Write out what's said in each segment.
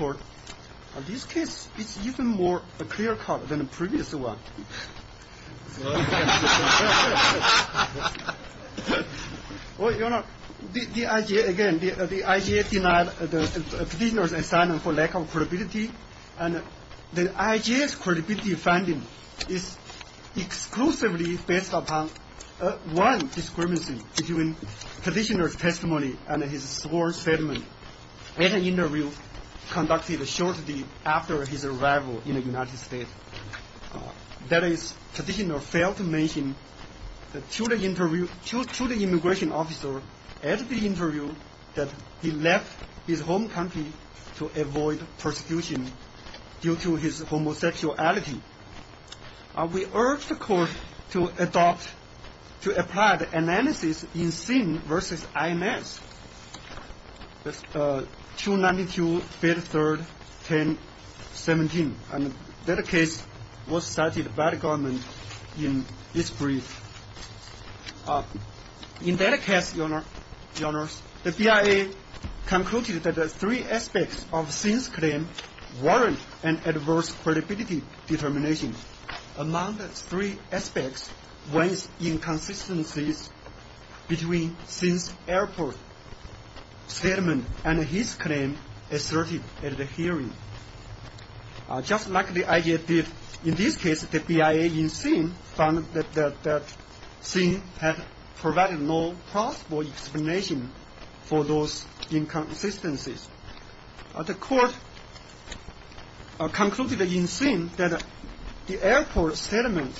In this case, it's even more clear cut than the previous one. The IJA denied the petitioner's assignment for lack of credibility. The IJA's credibility finding is exclusively based upon one discrepancy between the petitioner's testimony and his sworn statement The petitioner failed to mention to the immigration officer at the interview that he left his home country to avoid persecution due to his homosexuality. We urge the court to apply the analysis in SIN v. IMS 292-53-1017. In that case, the BIA concluded that three aspects of SIN's claim warrant an adverse credibility determination. Among the three aspects, one is inconsistencies between SIN's airport statement and his claim asserted at the hearing. Just like the IJA did in this case, the BIA in SIN found that SIN had provided no plausible explanation for those inconsistencies. The court concluded in SIN that the airport statement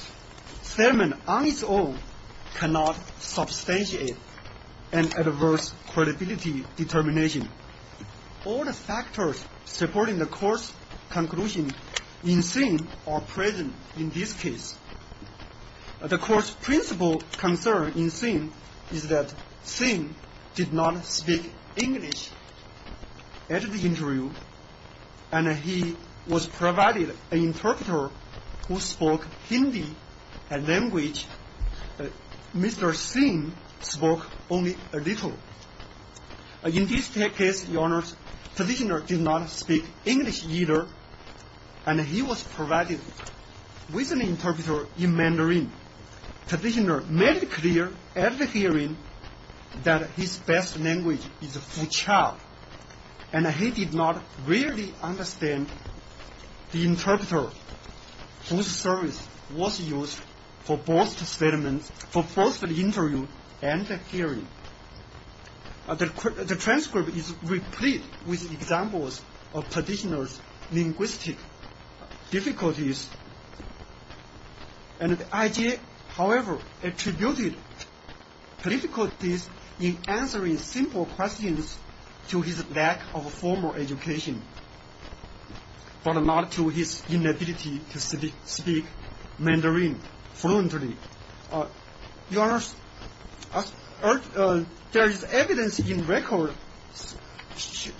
on its own cannot substantiate an adverse credibility determination. All the factors supporting the court's conclusion in SIN are present in this case. The court's principal concern in SIN is that SIN did not speak English at the interview, and he was provided an interpreter who spoke Hindi, a language Mr. SIN spoke only a little. In this case, the petitioner did not speak English either, and he was provided with an interpreter in Mandarin. The petitioner made it clear at the hearing that his best language is Fuchao, and he did not really understand the interpreter whose service was used for both the interview and the hearing. The transcript is replete with examples of petitioner's linguistic difficulties, and the IJA, however, attributed difficulties in answering simple questions to his lack of formal education, but not to his inability to speak Mandarin fluently. Your Honor, there is evidence in record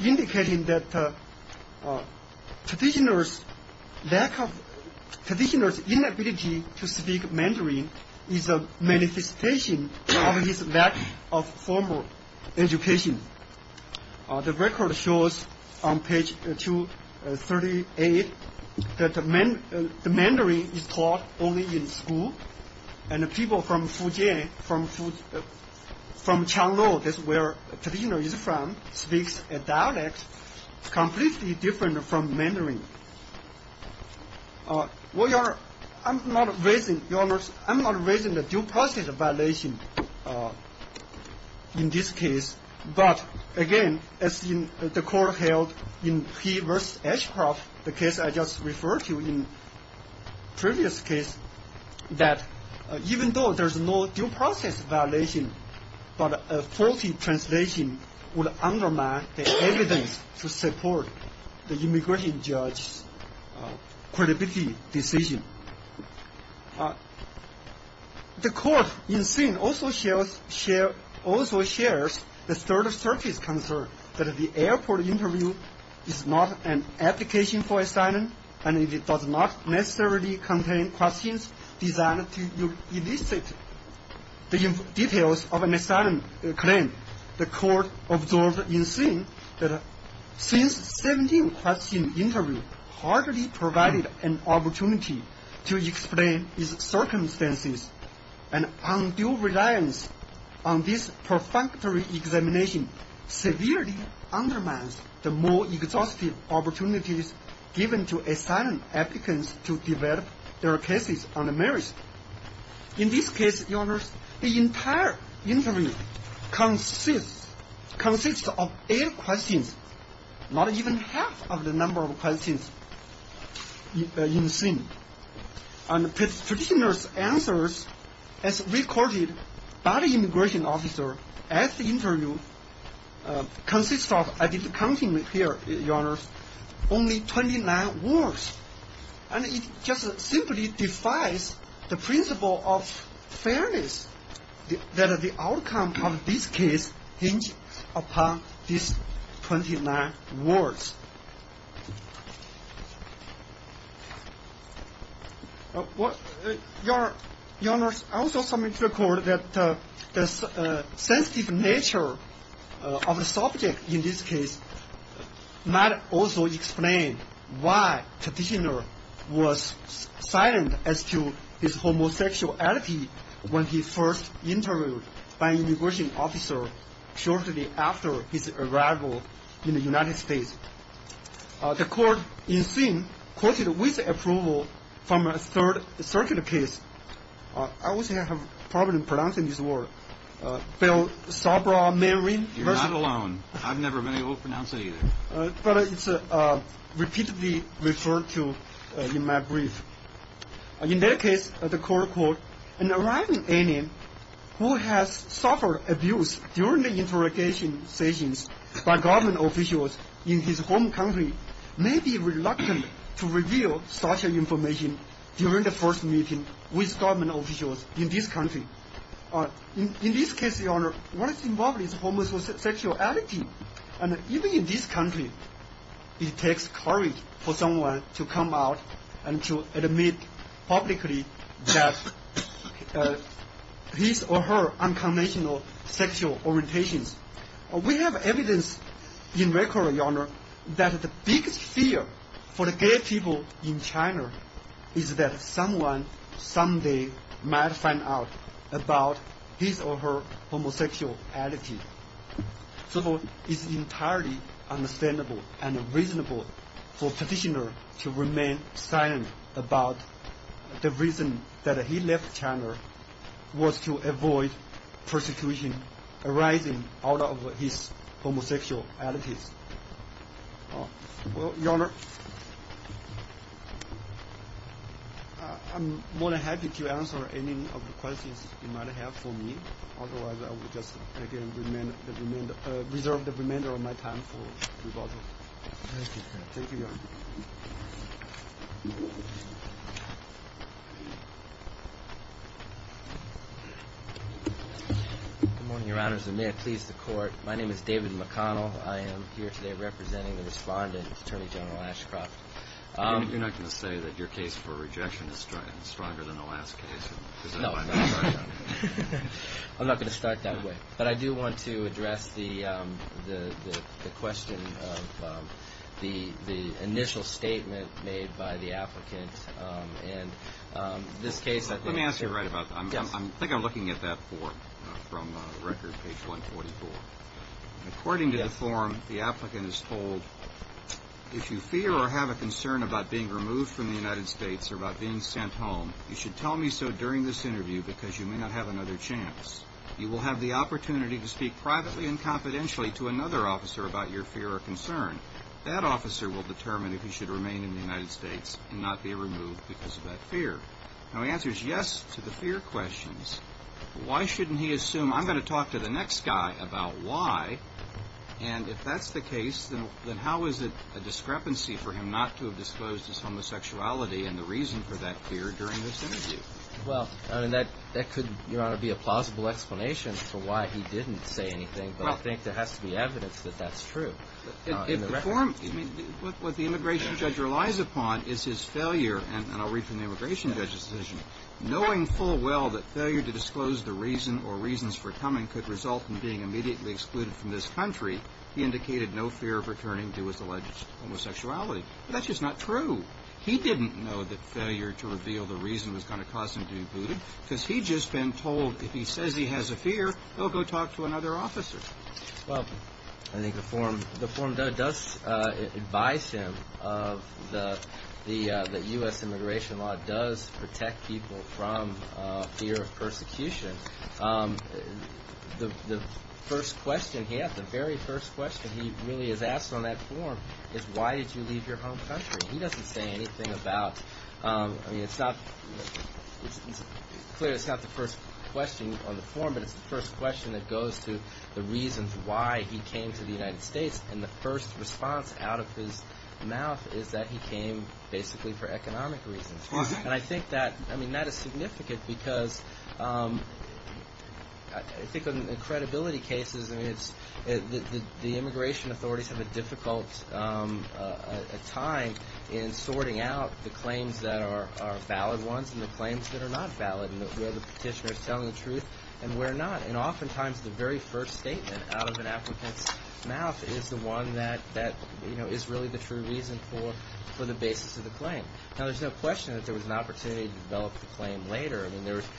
indicating that petitioner's inability to speak Mandarin is a manifestation of his lack of formal education. The record shows on page 238 that the Mandarin is taught only in school, and the people from Fujian, from Qianlong, that's where the petitioner is from, speaks a dialect completely different from Mandarin. Your Honor, I'm not raising a due process violation in this case, but again, as the court held in P v. Ashcroft, the case I just referred to in previous case, that even though there's no due process violation, but a faulty translation would undermine the evidence to support the immigration judge's credibility decision. The court in scene also shares the third-surface concern that the airport interview is not an application for asylum, and it does not necessarily contain questions designed to elicit the details of an asylum claim. The court observed in scene that since 17 question interview hardly provided an opportunity to explain its circumstances, and undue reliance on this perfunctory examination severely undermines the more exhaustive opportunities given to asylum applicants to develop their cases on the merits. In this case, Your Honor, the entire interview consists of eight questions, not even half of the number of questions in scene. And the petitioner's answers, as recorded by the immigration officer at the interview, consists of, I didn't count them here, Your Honor, only 29 words, and it just simply defies the principle of fairness that the outcome of this case hinges upon these 29 words. Your Honor, I also submit to the court that the sensitive nature of the subject in this case might also explain why the petitioner was silent as to his homosexuality when he first interviewed by an immigration officer shortly after his arrival in the United States. The court, in scene, quoted with approval from a third circuit case. I always have a problem pronouncing this word. Bill Sabra-Marin. You're not alone. I've never been able to pronounce that either. But it's repeatedly referred to in my brief. In that case, the court called an arriving alien who has suffered abuse during the interrogation sessions by government officials in his home country may be reluctant to reveal such information during the first meeting with government officials in this country. In this case, Your Honor, what is involved is homosexuality. And even in this country, it takes courage for someone to come out and to admit publicly that his or her unconventional sexual orientations. We have evidence in record, Your Honor, that the biggest fear for the gay people in China is that someone someday might find out about his or her homosexuality. So it's entirely understandable and reasonable for a petitioner to remain silent about the reason that he left China was to avoid persecution arising out of his homosexuality. Well, Your Honor, I'm more than happy to answer any of the questions you might have for me. Otherwise, I will just again reserve the remainder of my time for rebuttal. Thank you, Your Honor. Good morning, Your Honors, and may it please the Court. My name is David McConnell. I am here today representing the respondent, Attorney General Ashcroft. You're not going to say that your case for rejection is stronger than the last case? No, I'm not going to start that way. But I do want to address the question of the initial statement made by the applicant in this case. Let me ask you right about that. I think I'm looking at that form from record, page 144. According to the form, the applicant is told, if you fear or have a concern about being removed from the United States or about being sent home, you should tell me so during this interview because you may not have another chance. You will have the opportunity to speak privately and confidentially to another officer about your fear or concern. That officer will determine if you should remain in the United States and not be removed because of that fear. Now, he answers yes to the fear questions. Why shouldn't he assume I'm going to talk to the next guy about why? And if that's the case, then how is it a discrepancy for him not to have disclosed his homosexuality and the reason for that fear during this interview? Well, that could, Your Honor, be a plausible explanation for why he didn't say anything, but I think there has to be evidence that that's true. What the immigration judge relies upon is his failure. And I'll read from the immigration judge's decision. Knowing full well that failure to disclose the reason or reasons for coming could result in being immediately excluded from this country, he indicated no fear of returning to his alleged homosexuality. That's just not true. He didn't know that failure to reveal the reason was going to cause him to be booted because he'd just been told if he says he has a fear, he'll go talk to another officer. Well, I think the form does advise him that U.S. immigration law does protect people from fear of persecution. The first question he has, the very first question he really is asked on that form is why did you leave your home country? He doesn't say anything about – I mean, it's clear it's not the first question on the form, but it's the first question that goes to the reasons why he came to the United States. And the first response out of his mouth is that he came basically for economic reasons. And I think that – I mean, that is significant because I think in credibility cases, I mean, it's – the immigration authorities have a difficult time in sorting out the claims that are valid ones and the claims that are not valid and where the petitioner is telling the truth and where not. And oftentimes the very first statement out of an applicant's mouth is the one that, you know, is really the true reason for the basis of the claim. Now, there's no question that there was an opportunity to develop the claim later. I mean, there was –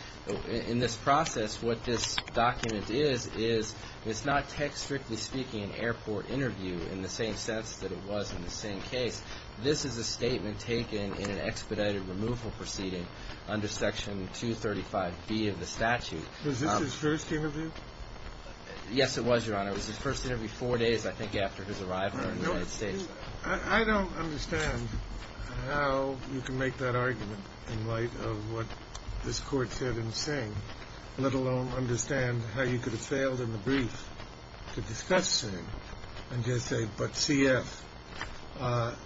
in this process, what this document is is it's not text, strictly speaking, an airport interview in the same sense that it was in the same case. This is a statement taken in an expedited removal proceeding under Section 235B of the statute. Was this his first interview? Yes, it was, Your Honor. It was his first interview four days, I think, after his arrival in the United States. I don't understand how you can make that argument in light of what this Court said in Singh, let alone understand how you could have failed in the brief to discuss Singh and just say, but C.F.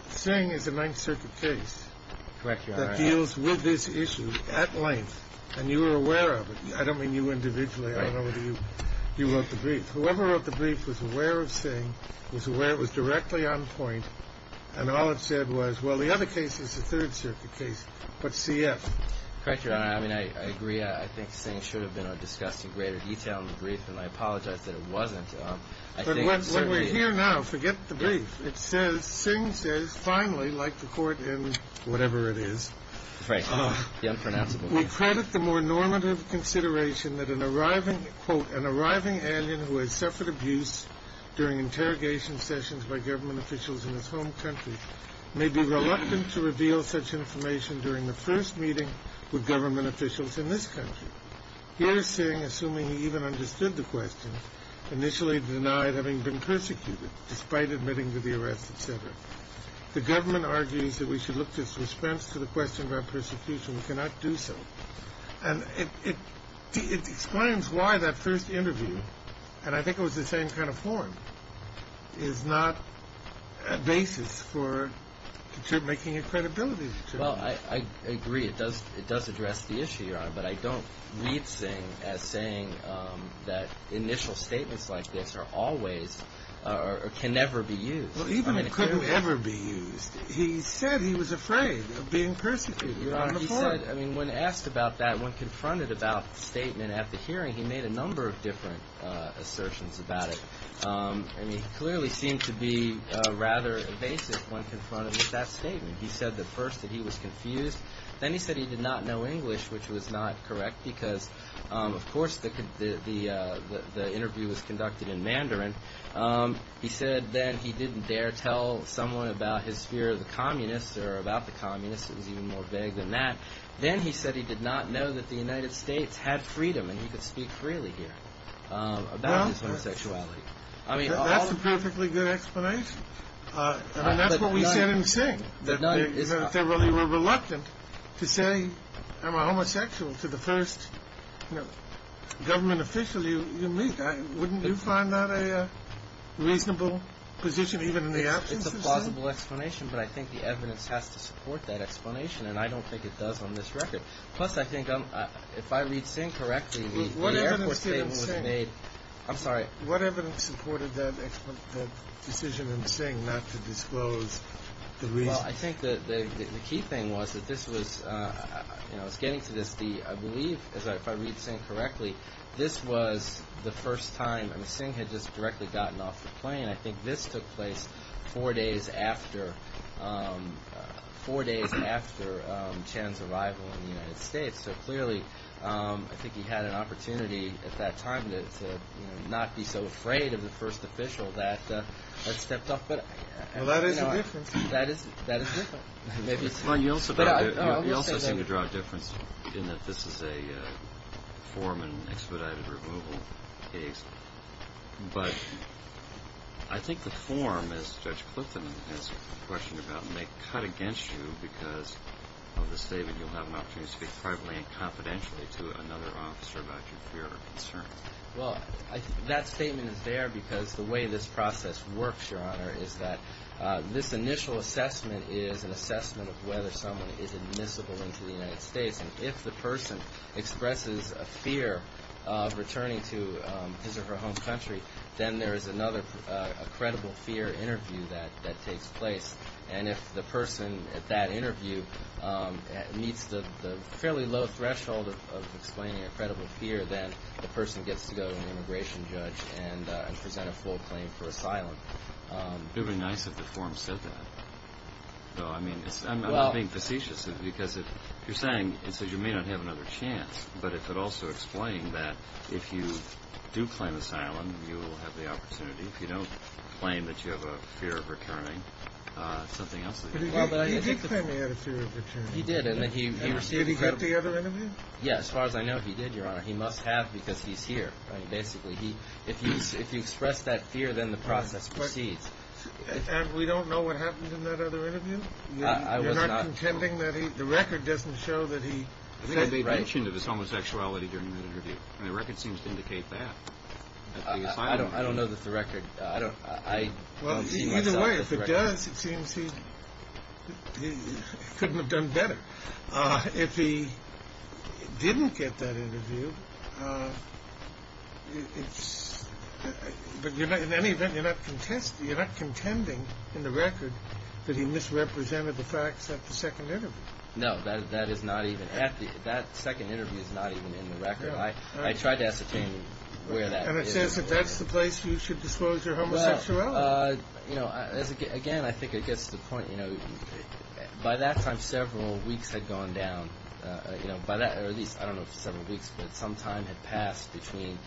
Singh is a Ninth Circuit case that deals with this issue at length, and you were aware of it. I don't mean you individually. I don't know whether you wrote the brief. Whoever wrote the brief was aware of Singh, was aware it was directly on point, and all it said was, well, the other case is a Third Circuit case, but C.F. Correct, Your Honor. I mean, I agree. I think Singh should have been discussed in greater detail in the brief, and I apologize that it wasn't. But when we're here now, forget the brief. It says, Singh says, finally, like the Court in whatever it is, will credit the more normative consideration that an arriving, quote, an arriving alien who has suffered abuse during interrogation sessions by government officials in his home country may be reluctant to reveal such information during the first meeting with government officials in this country. Here is Singh, assuming he even understood the question, initially denied having been persecuted despite admitting to the arrest, et cetera. The government argues that we should look to its response to the question about persecution. We cannot do so. And it explains why that first interview, and I think it was the same kind of form, is not a basis for making it credibility. Well, I agree. It does address the issue, Your Honor, but I don't read Singh as saying that initial statements like this are always or can never be used. Even if it could never be used, he said he was afraid of being persecuted on the Court. He said, I mean, when asked about that, when confronted about the statement at the hearing, he made a number of different assertions about it. I mean, he clearly seemed to be rather evasive when confronted with that statement. He said that first that he was confused. Then he said he did not know English, which was not correct because, of course, the interview was conducted in Mandarin. He said that he didn't dare tell someone about his fear of the communists or about the communists. It was even more vague than that. Then he said he did not know that the United States had freedom and he could speak freely here about his homosexuality. That's a perfectly good explanation. I mean, that's what we said in Singh, that they really were reluctant to say, am I homosexual, to the first government official you meet. Wouldn't you find that a reasonable position even in the absence of Singh? It's a plausible explanation, but I think the evidence has to support that explanation, and I don't think it does on this record. Plus, I think if I read Singh correctly, the airport statement was made. I'm sorry. What evidence supported that decision in Singh not to disclose the reason? Well, I think the key thing was that this was, you know, I was getting to this. I believe, if I read Singh correctly, this was the first time. I mean, Singh had just directly gotten off the plane. I think this took place four days after, four days after Chan's arrival in the United States. So clearly, I think he had an opportunity at that time to not be so afraid of the first official that stepped up. Well, that is a difference. That is different. You also seem to draw a difference in that this is a form and expedited removal case. But I think the form, as Judge Clifton has questioned about, may cut against you because of the statement, you'll have an opportunity to speak privately and confidentially to another officer about your fear or concern. Well, that statement is there because the way this process works, Your Honor, is that this initial assessment is an assessment of whether someone is admissible into the United States. And if the person expresses a fear of returning to his or her home country, then there is another credible fear interview that takes place. And if the person at that interview meets the fairly low threshold of explaining a credible fear, then the person gets to go to an immigration judge and present a full claim for asylum. It would be nice if the form said that. Well, I mean, I'm not being facetious because you're saying it says you may not have another chance, but it could also explain that if you do claim asylum, you will have the opportunity. If you don't claim that you have a fear of returning, it's something else. He did claim he had a fear of returning. He did. Did he get the other interview? Yes. As far as I know, he did, Your Honor. He must have because he's here, basically. If you express that fear, then the process proceeds. And we don't know what happened in that other interview? I was not. You're not contending that he – the record doesn't show that he – They mentioned it was homosexuality during that interview, and the record seems to indicate that. I don't know that the record – I don't see myself – Either way, if it does, it seems he couldn't have done better. If he didn't get that interview, it's – But in any event, you're not contending in the record that he misrepresented the facts at the second interview. No, that is not even – that second interview is not even in the record. I tried to ascertain where that is. And it says that that's the place you should disclose your homosexuality. Well, you know, again, I think it gets to the point, you know, by that time several weeks had gone down. You know, by that – or at least, I don't know if several weeks, but some time had passed between,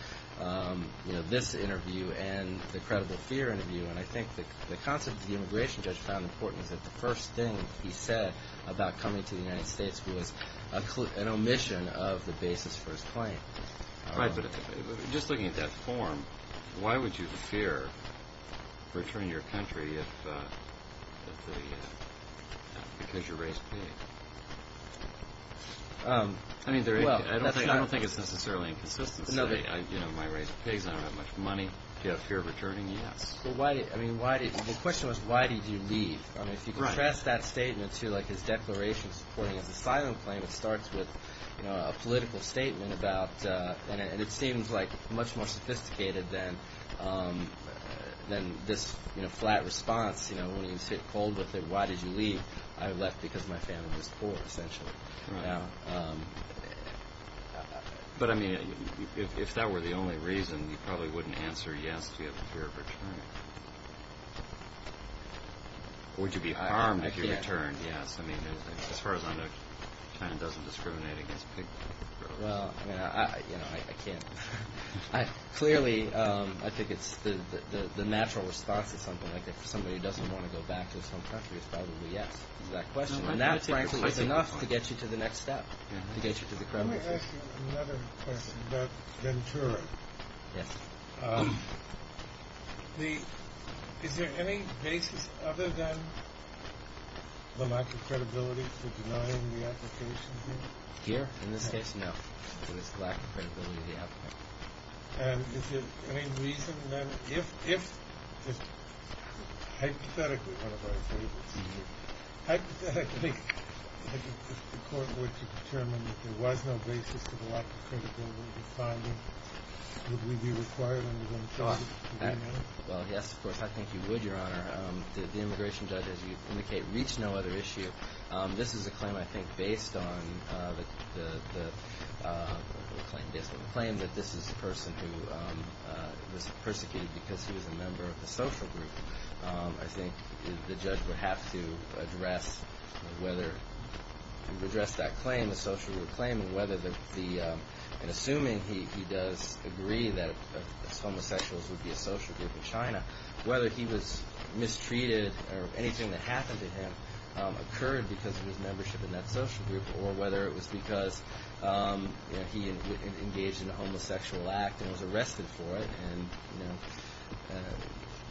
you know, this interview and the credible fear interview. And I think the concept the immigration judge found important is that the first thing he said about coming to the United States was an omission of the basis for his claim. Right, but just looking at that form, why would you fear returning to your country if the – because you're race-plagued? I mean, there – well, that's not – I don't think it's necessarily inconsistency. You know, am I raised with pigs? I don't have much money. Do you have a fear of returning? Yes. But why – I mean, why did – the question was why did you leave? I mean, if you contrast that statement to, like, his declaration supporting his asylum claim, it starts with a political statement about – and it seems, like, much more sophisticated than this, you know, flat response. You know, when you sit cold with it, why did you leave? I left because my family was poor, essentially. But, I mean, if that were the only reason, you probably wouldn't answer yes to your fear of returning. Would you be harmed if you returned? Yes. I mean, as far as I know, China doesn't discriminate against pig-growers. Well, you know, I can't – clearly, I think it's – the natural response to something like that if somebody doesn't want to go back to his home country is probably yes to that question. And that, frankly, is enough to get you to the next step, to get you to the credibility. Let me ask you another question about Ventura. Yes. The – is there any basis other than the lack of credibility for denying the application here? Here? In this case, no. There's a lack of credibility of the applicant. And is there any reason, then, if – hypothetically – hypothetically, the court were to determine that there was no basis for the lack of credibility, would we be required under Ventura to deny? Well, yes, of course, I think you would, Your Honor. The immigration judge, as you indicate, reached no other issue. This is a claim, I think, based on the claim that this is a person who was persecuted because he was a member of a social group. I think the judge would have to address whether – address that claim, the social group claim, and whether the – and assuming he does agree that homosexuals would be a social group in China, whether he was mistreated or anything that happened to him occurred because of his membership in that social group or whether it was because, you know, he engaged in a homosexual act and was arrested for it. And, you know,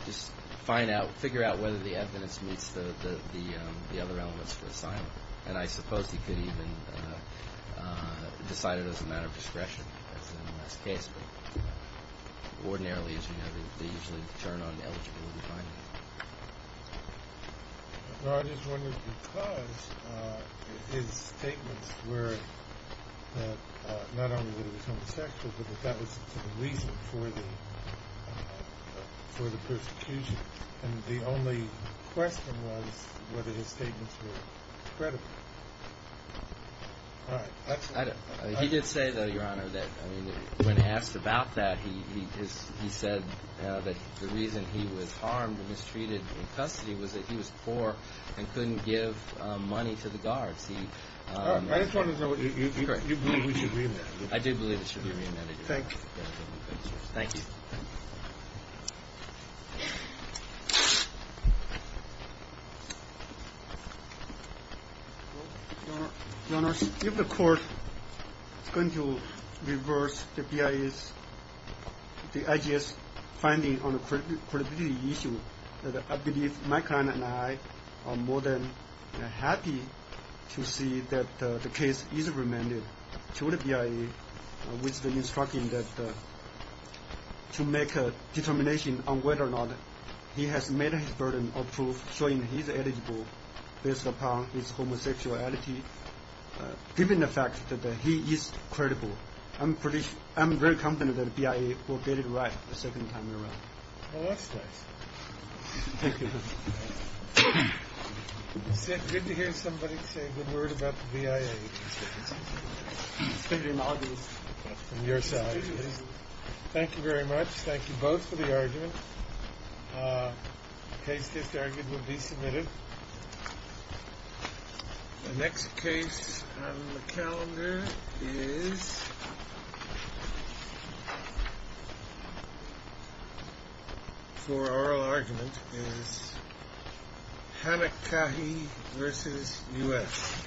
just find out – figure out whether the evidence meets the other elements of the assignment. And I suppose he could even decide it as a matter of discretion, as in this case. Ordinarily, as you know, they usually turn on the eligible in China. Well, I just wondered because his statements were that not only was he homosexual but that that was the reason for the persecution. And the only question was whether his statements were credible. All right. Excellent. He did say, though, Your Honor, that, I mean, when asked about that, he said that the reason he was harmed and mistreated in custody was that he was poor and couldn't give money to the guards. He – All right. I just wanted to know if you believe we should read that. I do believe it should be read. Thank you. Thank you. Your Honor, if the court is going to reverse the BIA's – the IJS's finding on the credibility issue, I believe my client and I are more than happy to see that the case is remanded to the BIA with the instruction that to make a determination on whether or not he has met his burden of proof showing he's eligible based upon his homosexuality, given the fact that he is credible. I'm pretty – I'm very confident that the BIA will get it right the second time around. Well, that's nice. Thank you. It's good to hear somebody say a good word about the BIA, especially an audience from your side. Thank you very much. Thank you both for the argument. The case disargued will be submitted. The next case on the calendar is – for oral argument is Hamakahi v. U.S. Thank you.